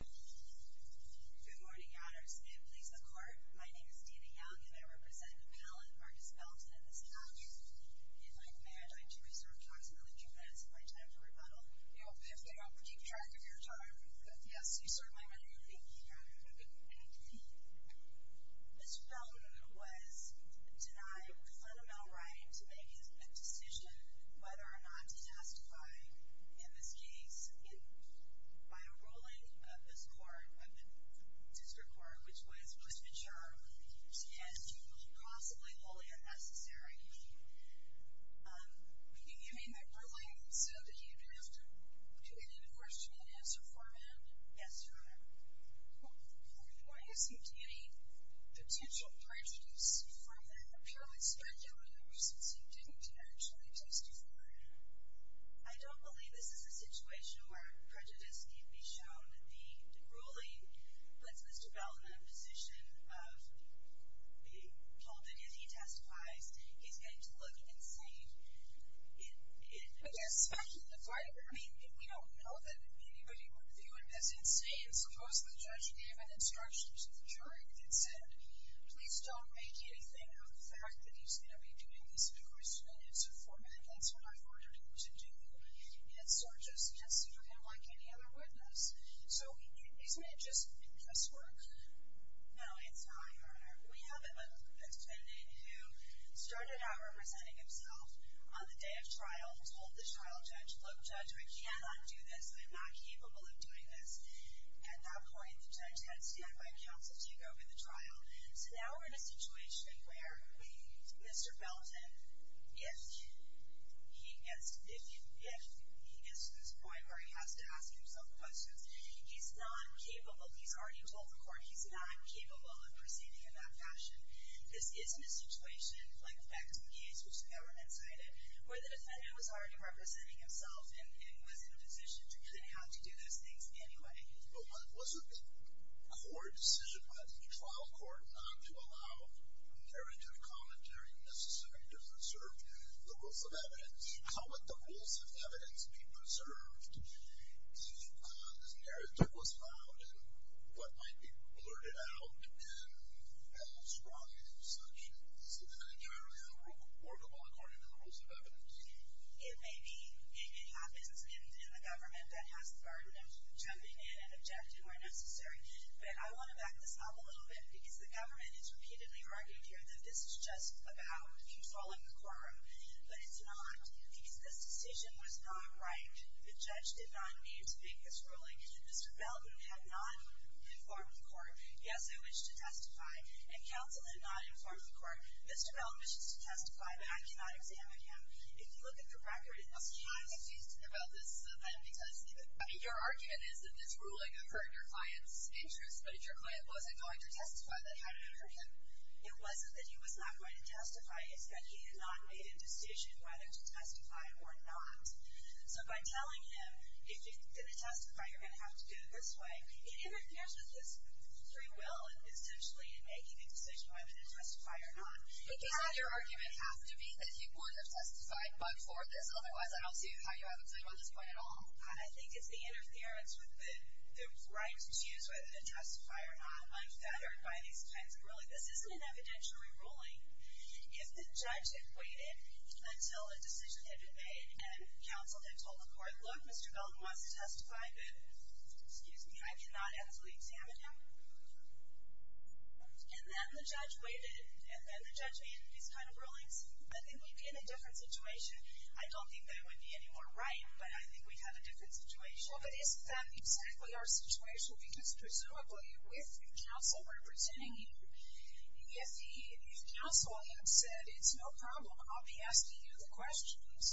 Good morning, honors and police of the court. My name is Dina Young and I represent Appellant Marcus Belton in this case. If I may, I'd like to reserve approximately two minutes of my time to rebuttal. You'll have to keep track of your time. Yes, you certainly will. Thank you. Mr. Belton was denied a fundamental right to make a decision whether or not to testify in this case by a ruling of this court, of the district court, which was, was mature and possibly wholly unnecessary. You mean that ruling said that you'd have to do an enforcement answer for him? Yes, Your Honor. Why is he getting potential prejudice from the appellant's family members since he didn't actually testify? I don't believe this is a situation where prejudice can be shown. The ruling puts Mr. Belton in a position of being told that if he testifies, he's getting to look insane. I mean, we don't know that anybody would view him as insane. Suppose the judge gave an instruction to the jury that said, please don't make anything of the fact that he's going to be doing this enforcement answer for me. That's what I've ordered him to do. It's not just testing for him like any other witness. So isn't it just press work? No, it's not, Your Honor. We have a defendant who started out representing himself on the day of trial and told this trial judge, look, judge, I cannot do this. I'm not capable of doing this. At that point, the judge had to stand by counsel to take over the trial. So now we're in a situation where Mr. Belton, if he gets to this point where he has to ask himself questions, he's not capable. He's not capable of proceeding in that fashion. This isn't a situation like back to the case, which the government cited, where the defendant was already representing himself and was in a position to have to do those things anyway. But wasn't the court's decision by the trial court not to allow narrative commentary necessarily to preserve the rules of evidence? How would the rules of evidence be preserved if this narrative was allowed and what might be blurted out and held strong in such an entirely unremarkable according to the rules of evidence? It may be. It happens in the government that has the burden of jumping in and objecting where necessary. But I want to back this up a little bit because the government has repeatedly argued here that this is just about you following the quorum. But it's not. Because this decision was not right. The judge did not need to make this ruling. Mr. Belton had not informed the court. Yes, I wish to testify. And counsel did not inform the court. Mr. Belton wishes to testify, but I cannot examine him. If you look at the record in this case. I'm confused about this then because your argument is that this ruling occurred in your client's interest. But if your client wasn't going to testify, then how did it occur to him? It wasn't that he was not going to testify. It's that he had not made a decision whether to testify or not. So by telling him, if you're going to testify, you're going to have to do it this way, it interferes with his free will, essentially, in making a decision whether to testify or not. But doesn't your argument have to be that he wouldn't have testified but for this? Otherwise, I don't see how you have a clue on this point at all. I think it's the interference with the right to choose whether to testify or not. I'm feathered by these kinds of rulings. But this isn't an evidentiary ruling. If the judge had waited until a decision had been made and counsel had told the court, look, Mr. Belton wants to testify, but, excuse me, I cannot absolutely examine him. And then the judge waited, and then the judge made these kind of rulings. I think we'd be in a different situation. I don't think that would be any more right, but I think we'd have a different situation. Well, but isn't that exactly our situation? Because, presumably, with counsel representing you, if counsel had said, it's no problem, I'll be asking you the questions,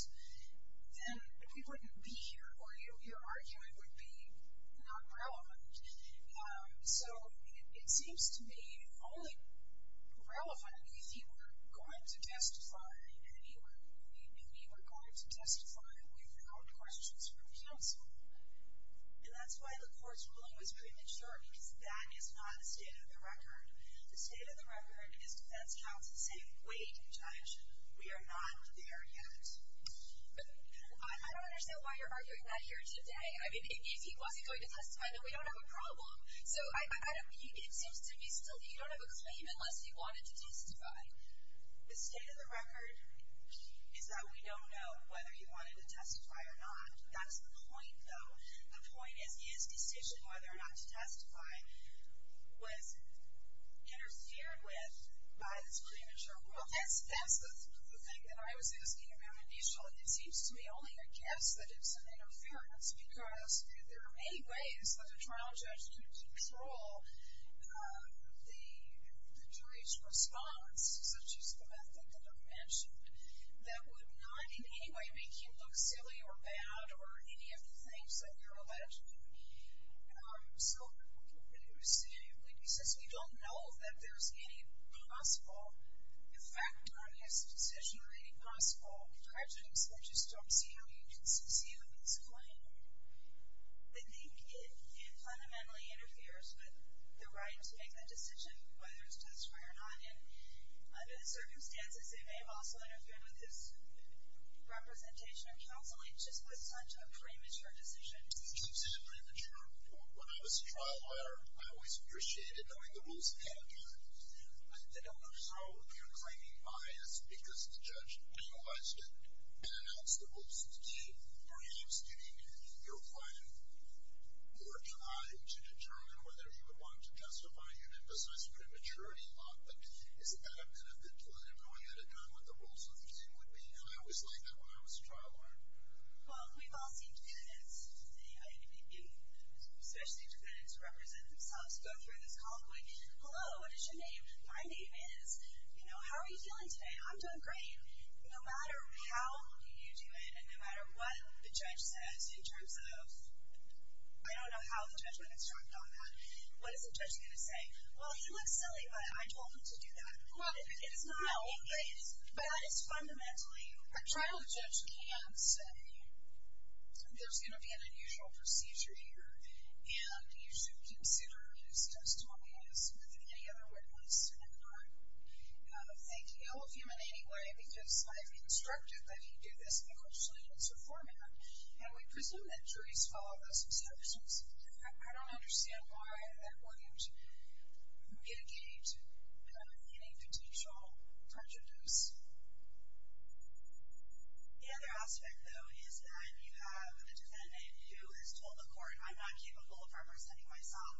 then we wouldn't be here, or your argument would be not relevant. So it seems to me only relevant if he were going to testify, and he knew we were going to testify without questions from counsel. And that's why the court's ruling was premature, because that is not state of the record. The state of the record is defense counsel saying, wait, judge, we are not there yet. I don't understand why you're arguing that here today. I mean, if he wasn't going to testify, then we don't have a problem. So it seems to me still that you don't have a claim unless he wanted to testify. The state of the record is that we don't know whether he wanted to testify or not. That's the point, though. The point is his decision whether or not to testify was interfered with by this premature rule. That's the thing that I was asking about initially. It seems to me only a guess that it's an interference, because there are many ways that a trial judge can control the jury's response, such as the method that I've mentioned, that would not in any way make him look silly or bad or any of the things that you're alleged to do. So we don't know that there's any possible effect on his decision or any possible prejudice. I just don't see how you can see through his claim. I think it fundamentally interferes with the right to make the decision whether to testify or not. And under the circumstances, it may have also interfered with his representation in counseling, just with such a premature decision. He keeps it premature. When I was a trial lawyer, I always appreciated knowing the rules ahead of time. So you're claiming bias because the judge penalized it and announced the rules. Do you, or he, is doing your fine working eye to determine whether he would want to testify and emphasize prematurity a lot? But isn't that a benefit to let him know he had it done, what the rules of the game would be? And I always liked that when I was a trial lawyer. Well, we've all seen defendants, especially defendants who represent themselves, go through this convoy. Hello, what is your name? My name is. How are you feeling today? I'm doing great. No matter how you do it and no matter what the judge says in terms of, I don't know how the judge would instruct on that. What is the judge going to say? Well, he looks silly, but I told him to do that. Well, it is not. No, but it is. But that is fundamentally. A trial judge can say there's going to be an unusual procedure here, and you should consider his testimony as more than any other witness in the court. Thank you. I love him in any way because I've instructed that he do this in a crucially innocent format, and we presume that juries follow those instructions. I don't understand why that wouldn't mitigate any potential prejudice. The other aspect, though, is that you have a defendant who has told the court, I'm not capable of representing myself,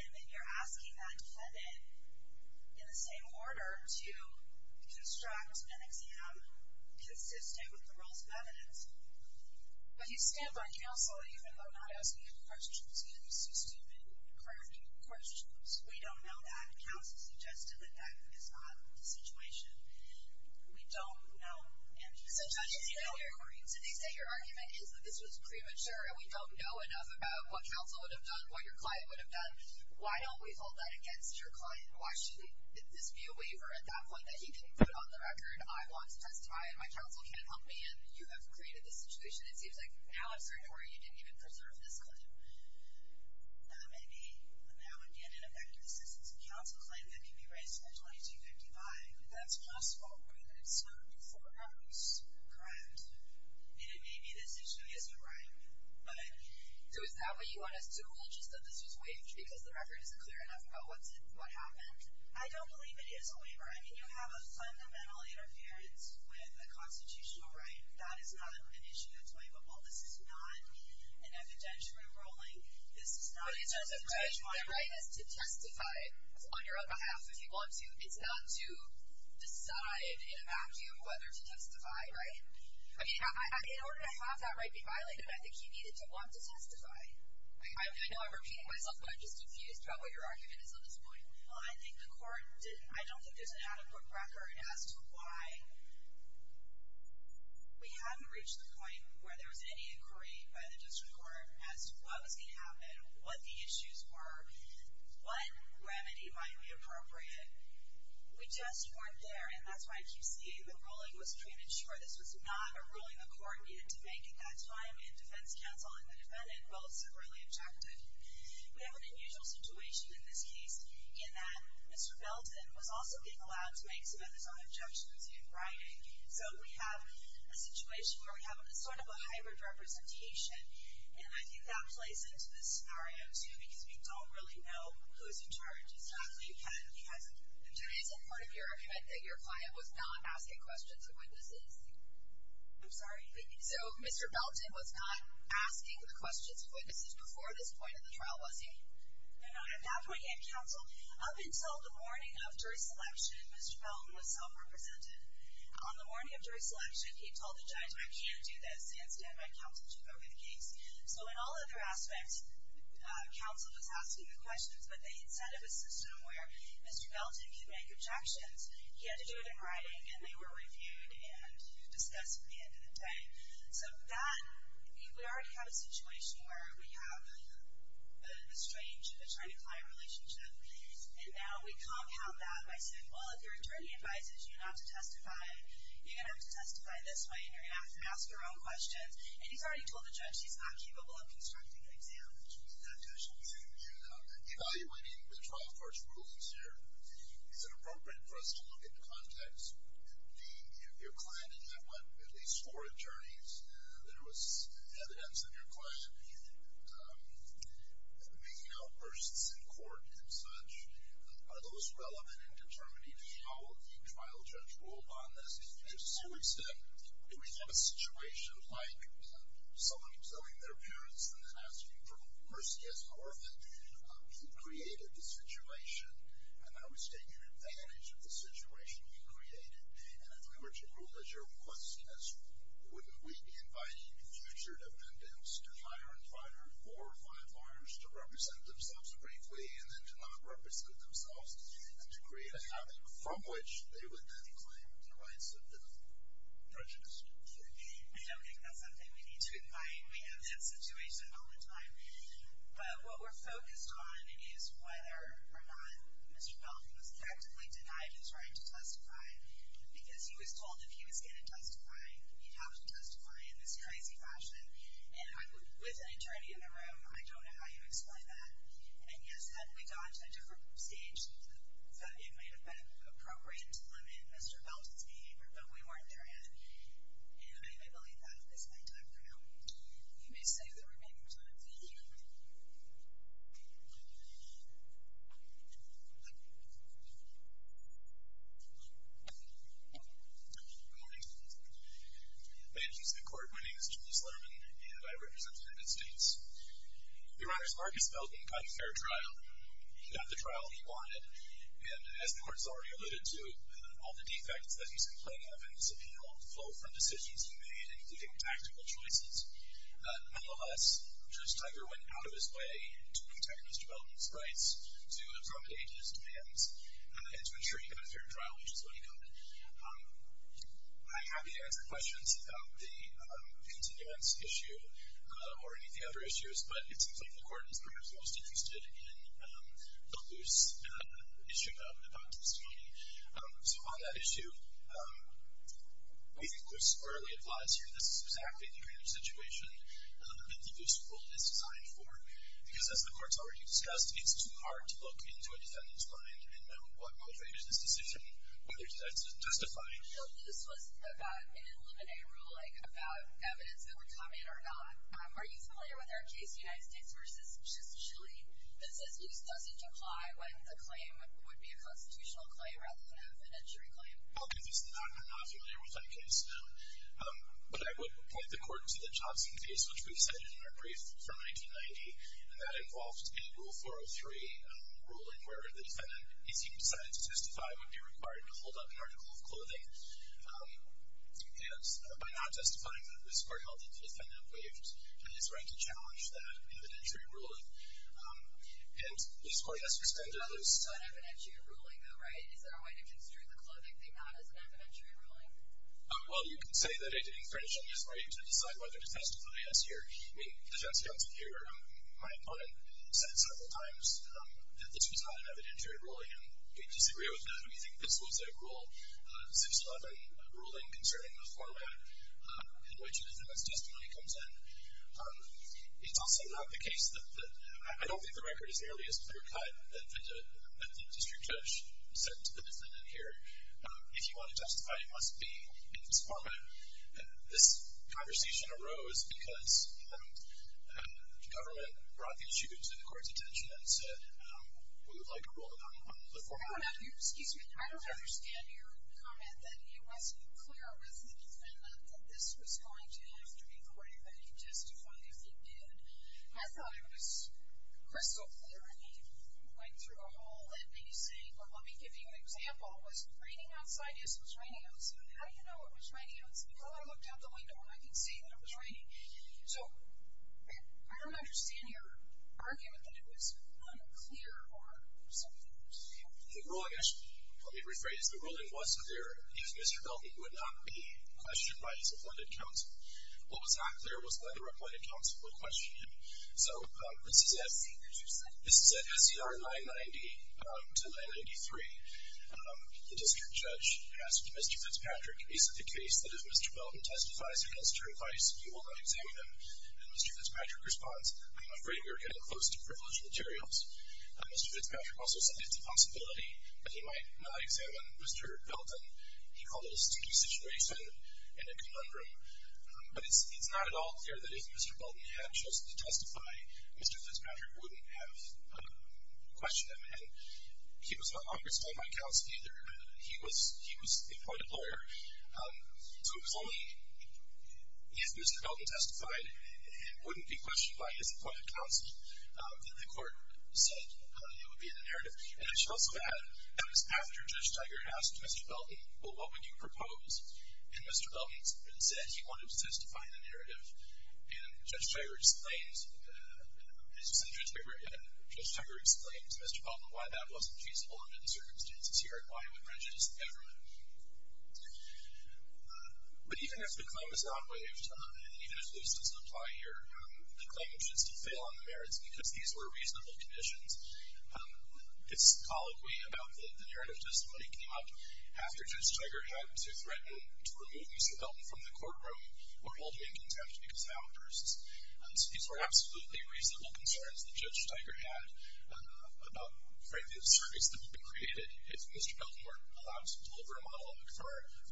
and then you're asking that defendant, in the same order, to construct an exam consistent with the rules of evidence. But you stand by counsel even though I'm not asking you questions, even if you see stupid, crappy questions. We don't know that. Counsel suggested that that is not the situation. We don't know. So judges say your argument is that this was premature and we don't know enough about what counsel would have done, what your client would have done. Why don't we hold that against your client? Why should this be a waiver at that point that he can put on the record, I want to testify and my counsel can't help me, and you have created this situation. It seems like now I'm starting to worry you didn't even preserve this claim. That may be, now again, an effective assistance of counsel claim that can be raised in a 2255. That's possible. We're going to have to wait for the records. Correct. And it may be this issue is a right. So is that what you want us to rule, just that this was waived because the record isn't clear enough about what happened? I don't believe it is a waiver. I mean, you have a fundamental interference with a constitutional right. That is not an issue that's waivable. This is not an evidentiary ruling. The right is to testify on your own behalf if you want to. It's not to decide in a vacuum whether to testify, right? I mean, in order to have that right be violated, I think he needed to want to testify. I know I'm repeating myself, but I'm just confused about what your argument is on this point. Well, I think the court didn't, I don't think there's an adequate record as to why we haven't reached the point where there was any inquiry by the district court as to what was going to happen, what the issues were, what remedy might be appropriate. We just weren't there, and that's why I keep saying the ruling was created short. This was not a ruling the court needed to make at that time, and defense counsel and the defendant both severely objected. We have an unusual situation in this case in that Mr. Belton was also being allowed to make some of his own objections in writing. So we have a situation where we have sort of a hybrid representation, and I think that plays into this scenario, too, because we don't really know who's in charge. It's not that he hasn't. Judy, is it part of your argument that your client was not asking questions of witnesses? I'm sorry? So Mr. Belton was not asking the questions of witnesses before this point in the trial, was he? No, not at that point yet, counsel. Up until the morning of jury selection, Mr. Belton was self-represented. On the morning of jury selection, he told the judge, I can't do this and stand by counsel to go with the case. So in all other aspects, counsel was asking the questions, but they had set up a system where Mr. Belton could make objections. He had to do it in writing, and they were reviewed and discussed at the end of the day. So then we already have a situation where we have a strange, a trying-to-client relationship, and now we compound that by saying, well, if your attorney advises you not to testify, you're going to have to testify this way, and you're going to have to ask your own questions. And he's already told the judge he's not capable of constructing an exam, which is not good. Evaluating the trial court's rulings here, is it appropriate for us to look at the context? Your client did have at least four attorneys that were evidence of your client. Making outbursts in court and such, are those relevant in determining how the trial judge ruled on this? To some extent, if we have a situation like someone telling their parents and then asking for mercy as an orphan, he created the situation, and now he's taking advantage of the situation he created. And if we were to rule as your request, wouldn't we be inviting future defendants to hire and fire four or five lawyers to represent themselves briefly, and then to not represent themselves, and to create a habit from which they would then claim the rights of the prejudiced? I don't think that's something we need to invite. We have that situation all the time. But what we're focused on is whether or not Mr. Pelfe was practically denied his right to testify, because he was told if he was going to testify, he'd have to testify in this crazy fashion. And I'm with an attorney in the room. I don't know how you explain that. And yes, then we got to a different stage that it might have been appropriate to limit Mr. Pelfe's behavior, but we weren't there yet. And I believe that is my time for now. You may save the remaining time. Good morning. Ladies and court, my name is Julius Lerman, and I represent the United States. Your Honor, so Marcus Pelton got a fair trial. He got the trial he wanted. And as the Court has already alluded to, all the defects that he's complaining of in his appeal flow from decisions he made, including tactical choices. I'm happy to answer questions about the continuance issue or any of the other issues, but it seems like the Court is perhaps most interested in the loose issue about testimony. So on that issue, we think it's squarely advised here this is exactly the kind of situation that the loose rule is designed for, because as the Court's already discussed, it's too hard to look into a defendant's mind and know what motivated this decision, whether to testify. So loose was about an eliminated rule, like about evidence that would come in or not. Are you familiar with our case, United States v. Justice Shaleen, that says loose doesn't apply when the claim would be a constitutional claim rather than a fiduciary claim? No, I'm not familiar with that case. But I would point the Court to the Johnson case, which we've cited in our brief from 1990, and that involved a Rule 403 ruling where the defendant, if he decided to testify, would be required to hold up an article of clothing. And by not testifying, the Court held that the defendant waived his right to challenge that evidentiary ruling. And the Court has suspended loose. It's not an evidentiary ruling, though, right? Is there a way to construe the clothing thing not as an evidentiary ruling? Well, you can say that it infringes on his right to decide whether to testify. The defense counsel here, my opponent, said several times that this was not an evidentiary ruling, and we disagree with that. We think this was a Rule 611 ruling concerning the format in which the defendant's testimony comes in. It's also not the case that I don't think the record is nearly as clear-cut as the district judge said to the defendant here. If you want to testify, you must be in this format. This conversation arose because the government brought the issue to the Court's attention and said, we would like a ruling on the format. Excuse me. I don't understand your comment that it wasn't clear with the defendant that this was going to happen before anybody testified. If it did, I thought it was crystal clear. And he went through a whole, let me see, well, let me give you an example. Was raining outside? Yes, it was raining outside. How do you know it was raining outside? Well, I looked out the window and I could see that it was raining. So I don't understand your argument that it was unclear or something. The ruling, let me rephrase, the ruling was clear. If Mr. Belton would not be questioned by his appointed counsel, what was not clear was whether appointed counsel would question him. So this is at SCR 990 to 993. The district judge asked Mr. Fitzpatrick, is it the case that if Mr. Belton testifies against your advice, you will not examine him? And Mr. Fitzpatrick responds, I'm afraid we are getting close to privileged materials. Mr. Fitzpatrick also said it's a possibility that he might not examine Mr. Belton. He called it a sticky situation and a conundrum. But it's not at all clear that if Mr. Belton had chosen to testify, Mr. Fitzpatrick wouldn't have questioned him. And he was not on his time on counsel either. He was the appointed lawyer. So it was only if Mr. Belton testified and wouldn't be questioned by his appointed counsel that the court said it would be in the narrative. And I should also add that it was after Judge Tiger asked Mr. Belton, well, what would you propose? And Mr. Belton said he wanted to testify in the narrative. And Judge Tiger's claims, as you said, Judge Tiger explains to Mr. Belton why that wasn't feasible under the circumstances here and why it would prejudice the government. But even if the claim is not waived and even if loose doesn't apply here, the claim which is to fail on the merits because these were reasonable conditions, this colloquy about the narrative testimony came up after Judge Tiger had to threaten to remove Mr. Belton from the courtroom or hold him in contempt because of outbursts. And so these were absolutely reasonable concerns that Judge Tiger had about, frankly, the service that would be created if Mr. Belton were allowed to deliver a monologue.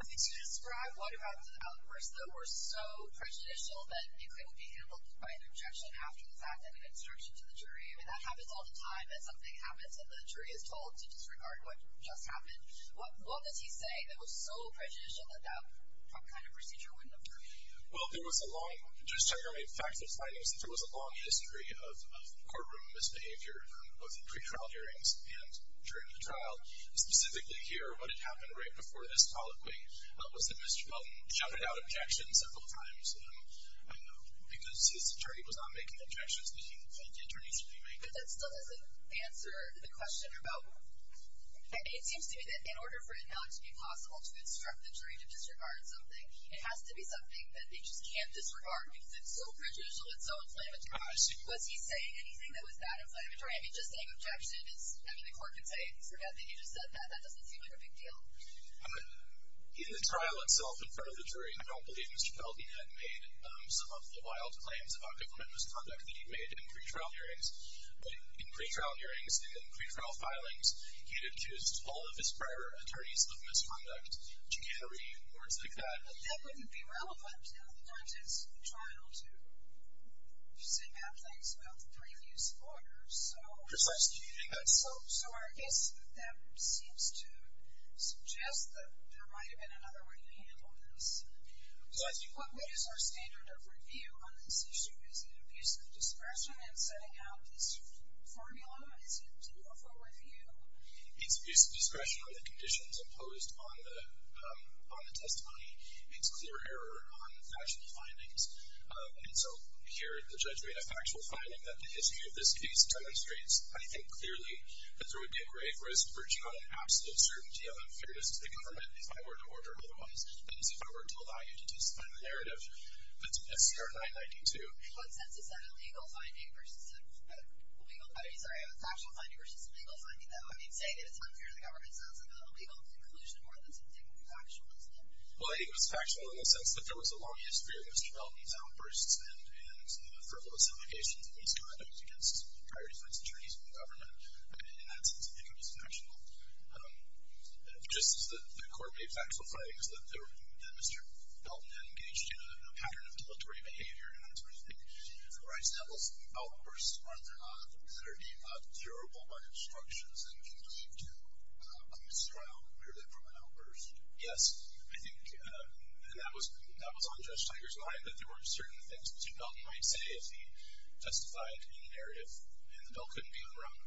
Could you describe what about the outbursts that were so prejudicial that it couldn't be handled by an objection after the fact and an instruction to the jury? I mean, that happens all the time as something happens and the jury is told to disregard what just happened. What does he say that was so prejudicial that that kind of procedure wouldn't have worked? Well, there was a long—Judge Tiger made facts and findings that there was a long history of courtroom misbehavior both in pre-trial hearings and during the trial. Specifically here, what had happened right before this colloquy was that Mr. Belton shouted out objections several times because his attorney was not making the objections that he thought the attorneys should be making. But that still doesn't answer the question about— It seems to me that in order for it not to be possible to instruct the jury to disregard something, it has to be something that they just can't disregard because it's so prejudicial and so inflammatory. I see. Was he saying anything that was that inflammatory? I mean, just saying objection is—I mean, the court could say he forgot that he just said that. That doesn't seem like a big deal. In the trial itself in front of the jury, I don't believe Mr. Belton had made some of the wild claims about government misconduct that he'd made in pre-trial hearings. In pre-trial hearings and in pre-trial filings, he'd accused all of his prior attorneys of misconduct, chicanery and words like that. But that wouldn't be relevant in the context of the trial to say bad things about previous lawyers. Precisely. So I guess that seems to suggest that there might have been another way to handle this. What is our standard of review on this issue? Is it abuse of discretion in setting out this formula? What is it to offer review? It's abuse of discretion on the conditions imposed on the testimony. It's clear error on factual findings. And so here the judge made a factual finding that the history of this case demonstrates, I think clearly, that there would be a grave risk of reaching out an absolute certainty of unfairness to the government if I were to order other ones than as if I were to allow you to testify on the narrative. That's 992. In what sense is that a legal finding versus a legal finding? I'm sorry, a factual finding versus a legal finding, though? I mean, saying that it's unfair to the government sounds like an illegal conclusion more than something factual, doesn't it? Well, I think it was factual in the sense that there was a long history of Mr. Belton's outbursts and frivolous allegations of misconduct against prior defense attorneys in the government. In that sense, I think it was factual. Just as the court made factual findings that Mr. Belton had engaged in a pattern of deletery behavior and that sort of thing, the rise in outbursts, aren't there not, that are deemed durable by instructions and can lead to a mistrial? Where did that come from, an outburst? Yes, I think that was on Judge Tiger's mind that there were certain things that Mr. Belton might say if he testified in a narrative and the bill couldn't be overrun.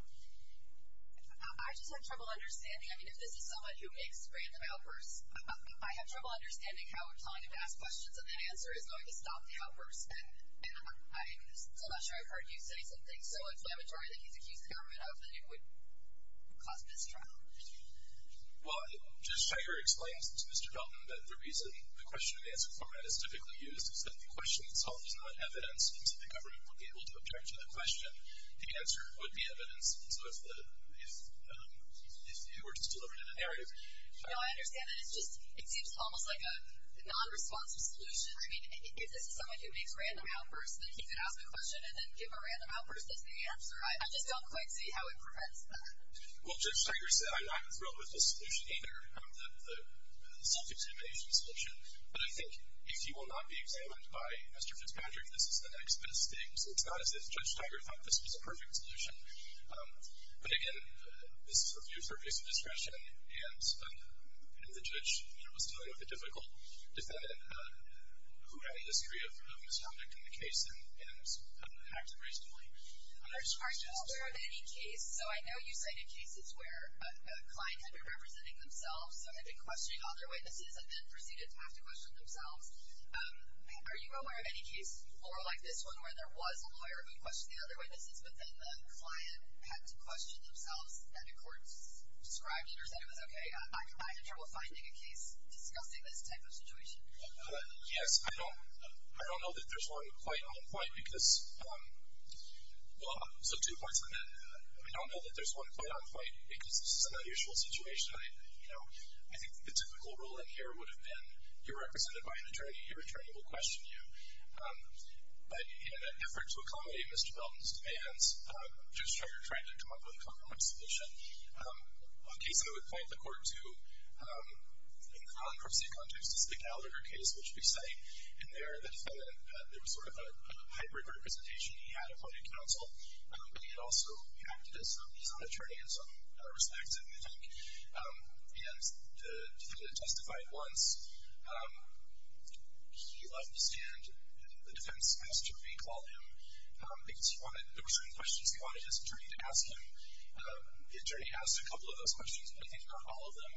I just have trouble understanding. I mean, if this is someone who makes random outbursts, I have trouble understanding how we're telling him to ask questions and the answer is going to stop the outburst. And I'm still not sure I've heard you say something so exclamatory that he's accused the government of that it would cause mistrial. Well, Judge Tiger explains to Mr. Belton that the reason the question-and-answer format is typically used is that the question itself is not evidence and so the government would be able to object to the question. The answer would be evidence. So if it were just delivered in a narrative... No, I understand that it seems almost like a non-responsive solution. I mean, if this is someone who makes random outbursts, then he could ask a question and then give a random outburst as the answer. I just don't quite see how it prevents that. Well, Judge Tiger said, I'm not thrilled with this solution either, the self-examination solution, but I think if he will not be examined by Mr. Fitzpatrick, this is the next best thing. So it's not as if Judge Tiger thought this was a perfect solution. But again, this is a view for peace of discretion and if the judge was dealing with a difficult defendant, who had a history of misconduct in the case and acted reasonably? Are you aware of any case... So I know you cited cases where a client had been representing themselves and had been questioning other witnesses and then proceeded to have to question themselves. Are you aware of any case, or like this one, where there was a lawyer who questioned the other witnesses but then the client had to question themselves and the court described it or said it was okay? I have trouble finding a case discussing this type of situation. Yes, I don't know that there's one quite on point because... Well, so two points on that. I don't know that there's one quite on point because this is an unusual situation. I think the typical role in here would have been you're represented by an attorney, your attorney will question you. But in an effort to accommodate Mr. Belton's demands, just trying to come up with a compromise solution, a case I would point the court to, in the non-corruption context, is the Gallagher case, which we cite in there. The defendant, there was sort of a hybrid representation. He had a public counsel, but he had also acted as an attorney in some respects, I think. And the defendant testified once. He left the stand, and the defense asked to recall him because there were certain questions he wanted his attorney to ask him. The attorney asked a couple of those questions, but I think not all of them.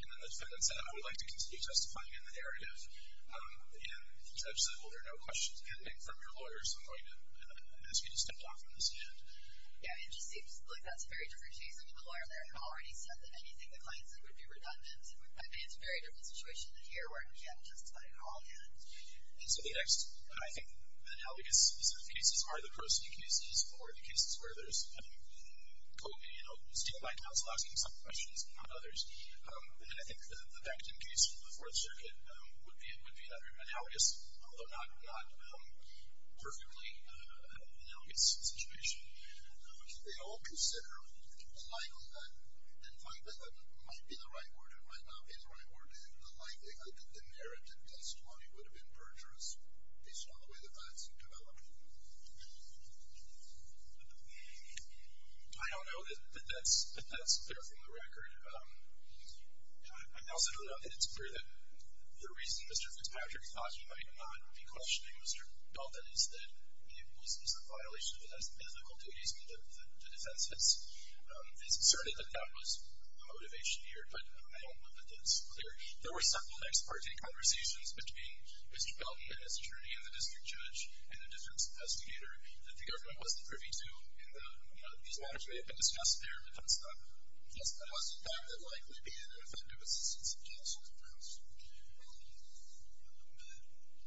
And then the defendant said, I would like to continue testifying in the narrative. And the judge said, well, there are no questions pending from your lawyer, so I'm going to ask you to step off from the stand. Yeah, it just seems like that's a very different case. I mean, the lawyer in there had already said that anything the client said would be redundant. I mean, it's a very different situation in here where I can't justify it all yet. And so the next, I think, analogous specific cases are the pro se cases or the cases where there's co-stand-by counsel asking some questions, not others. And I think the Becton case from the Fourth Circuit would be another analogous, although not perfectly analogous situation. They all consider the likelihood that the defendant might be the right order, might not be the right order, and the likelihood that the narrative testimony would have been perjurous based on the way the facts had developed. I don't know that that's clear from the record. I also don't know that it's clear that the reason Mr. Fitzpatrick thought he might not be questioning Mr. Dalton is that it was a violation of his ethical duties and the defense has asserted that that was the motivation here. But I don't know that that's clear. There were several next-party conversations between Mr. Dalton as attorney and the district judge and the district's investigator that the government wasn't privy to and that these matters may have been discussed there, but that's not the case. That wasn't the fact that it likely be an effective assistance of counsel.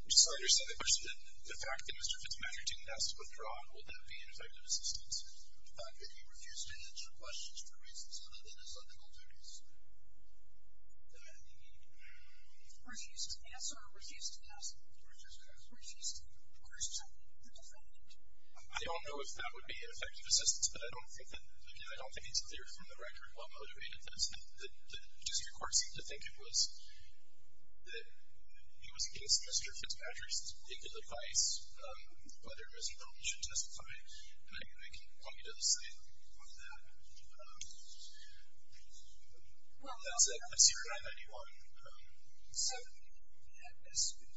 I'm sorry, your second question. The fact that Mr. Fitzpatrick didn't ask to withdraw, will that be an effective assistance? The fact that he refused to answer questions for reasons other than his ethical duties. Refused to answer or refused to ask? Refused to ask. Refused to question the defendant. I don't know if that would be an effective assistance, but I don't think that, again, I don't think it's clear from the record what motivated this. The district court seemed to think it was that he was against Mr. Fitzpatrick's particular advice whether Mr. Dalton should testify. And I can point you to the site of that. That's it. I see we don't have anyone. So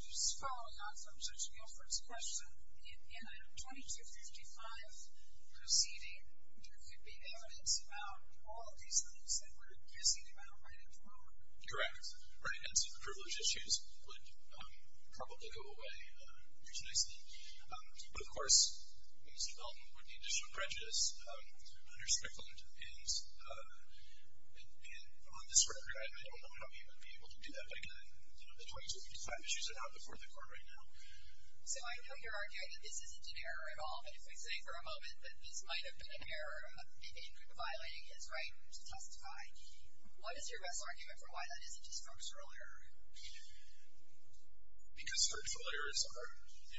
just following on from Judge Gilford's question, in item 2255 proceeding, there could be evidence about all of these things that we're guessing about right at the moment. Correct. Right, and so the privilege issues would probably go away pretty nicely. But of course, Mr. Dalton would need additional prejudice to be underspecified. And on this record, I don't know how he would be able to do that, but again, the 2255 issues are not before the court right now. So I know you're arguing that this isn't an error at all, but if we say for a moment that this might have been an error in violating his right to testify, what is your best argument for why that isn't a structural error? Because structural errors are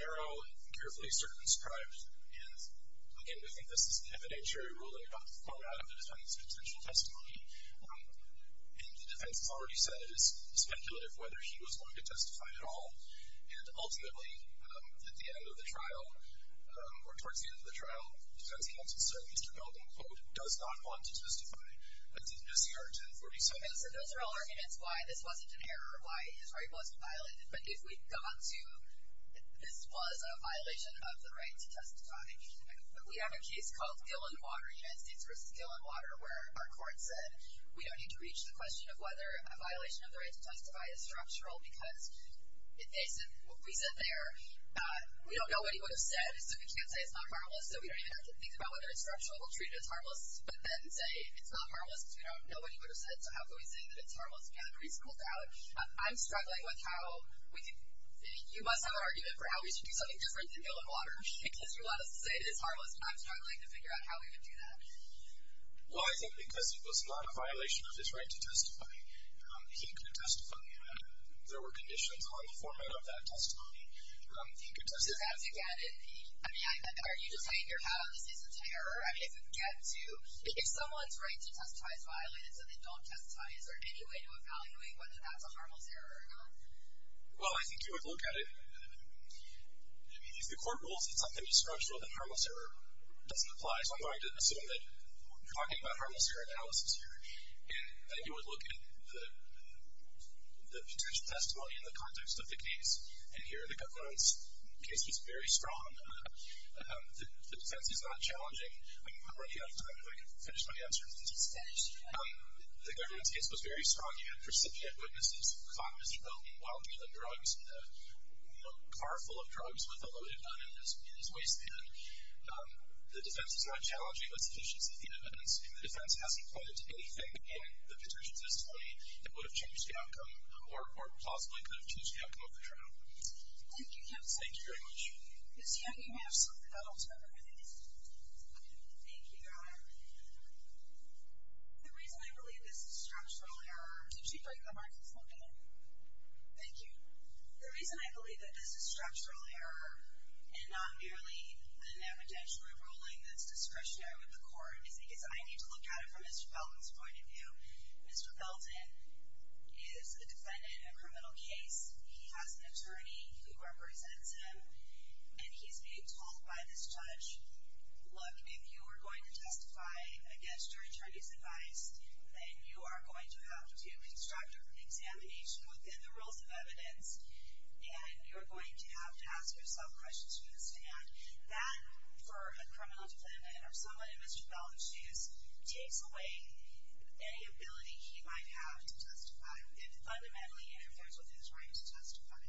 narrow and carefully circumscribed. And again, we think this is an evidentiary ruling about the format of the defense's potential testimony. And the defense has already said it is speculative whether he was willing to testify at all. And ultimately, at the end of the trial, or towards the end of the trial, defense counsel, certainly Mr. Dalton, quote, does not want to testify. That's in his CR 1047. Okay, so those are all arguments why this wasn't an error, why his right wasn't violated. But if we go on to, this was a violation of the right to testify. We have a case called Gill and Water, United States versus Gill and Water, where our court said, we don't need to reach the question of whether a violation of the right to testify is structural because, we said there, we don't know what he would have said, so we can't say it's not harmless. So we don't even have to think about whether it's structural, we'll treat it as harmless, but then say it's not harmless, because we don't know what he would have said, so how can we say that it's harmless? Again, a pretty simple doubt. I'm struggling with how, you must have an argument for how we should do something different than Gill and Water, because you want us to say that it's harmless, but I'm struggling to figure out how we would do that. Well, I think because it was not a violation of his right to testify, he could have testified, and there were conditions on the format of that testimony, he could testify. So that's again, I mean, are you just saying you're having a cease and terror? I mean, if someone's right to testify is violated, so they don't testify, is there any way to evaluate whether that's a harmless error or not? Well, I think you would look at it, I mean, if the court rules that something is structural then harmless error doesn't apply, so I'm going to assume that you're talking about harmless error analysis here, and you would look at the potential testimony in the context of the case, and here, the Guttman's case was very strong. The potency's not challenging. I'm running out of time, if I can finish my answer. The Guttman's case was very strong. You had precipitate witnesses, caught Mr. Guttman while dealing drugs in a car full of drugs with a loaded gun in his waistband. The defense is not challenging, but it's efficiency is the evidence, and the defense hasn't pointed to anything in the potential testimony that would have changed the outcome, or possibly could have changed the outcome of the trial. Thank you, counsel. Thank you very much. Ms. Young, you may have something else. Thank you, Your Honor. The reason I believe this is structural error... Could you take the mic, please? Thank you. The reason I believe that this is structural error, and not merely an evidentiary ruling that's discretionary with the court, is because I need to look at it from Mr. Felton's point of view. Mr. Felton is a defendant in a criminal case. He has an attorney who represents him, and he's being told by this judge, look, if you are going to testify against your attorney's advice, then you are going to have to construct an examination within the rules of evidence, and you're going to have to ask yourself questions from this stand. That, for a criminal defendant, or someone in Mr. Felton's shoes, takes away any ability he might have to testify. It fundamentally interferes with his right to testify.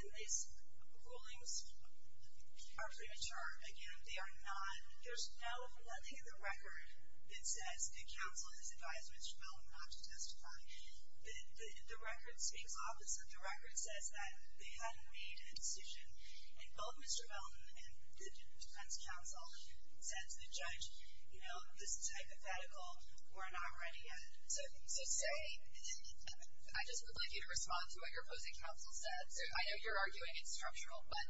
And these rulings are premature. Again, they are not... There's nothing in the record that says the counsel has advised Mr. Felton not to testify. The record speaks opposite. The record says that they hadn't made a decision, and both Mr. Felton and the defense counsel said to the judge, you know, this is hypothetical, we're not ready yet. So say, I just would like you to respond to what your opposing counsel said. I know you're arguing it's structural, but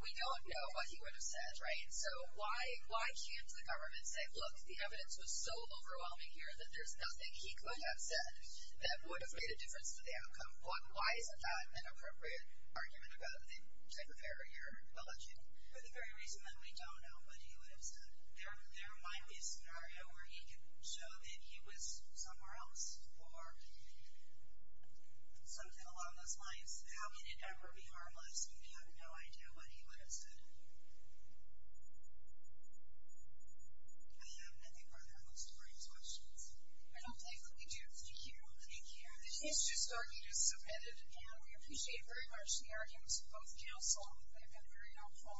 we don't know what he would have said, right? So why can't the government say, look, the evidence was so overwhelming here that there's nothing he could have said that would have made a difference to the outcome? Why is that an appropriate argument about the type of error you're alleging? For the very reason that we don't know what he would have said. There might be a scenario where he could show that he was somewhere else, or something along those lines. How can it ever be harmless when we have no idea what he would have said? I have nothing further on the story. Questions? I don't think that we do. Thank you. Thank you. This case is just starting to submit it, and we appreciate very much the arguments of both counsel. They've been very helpful.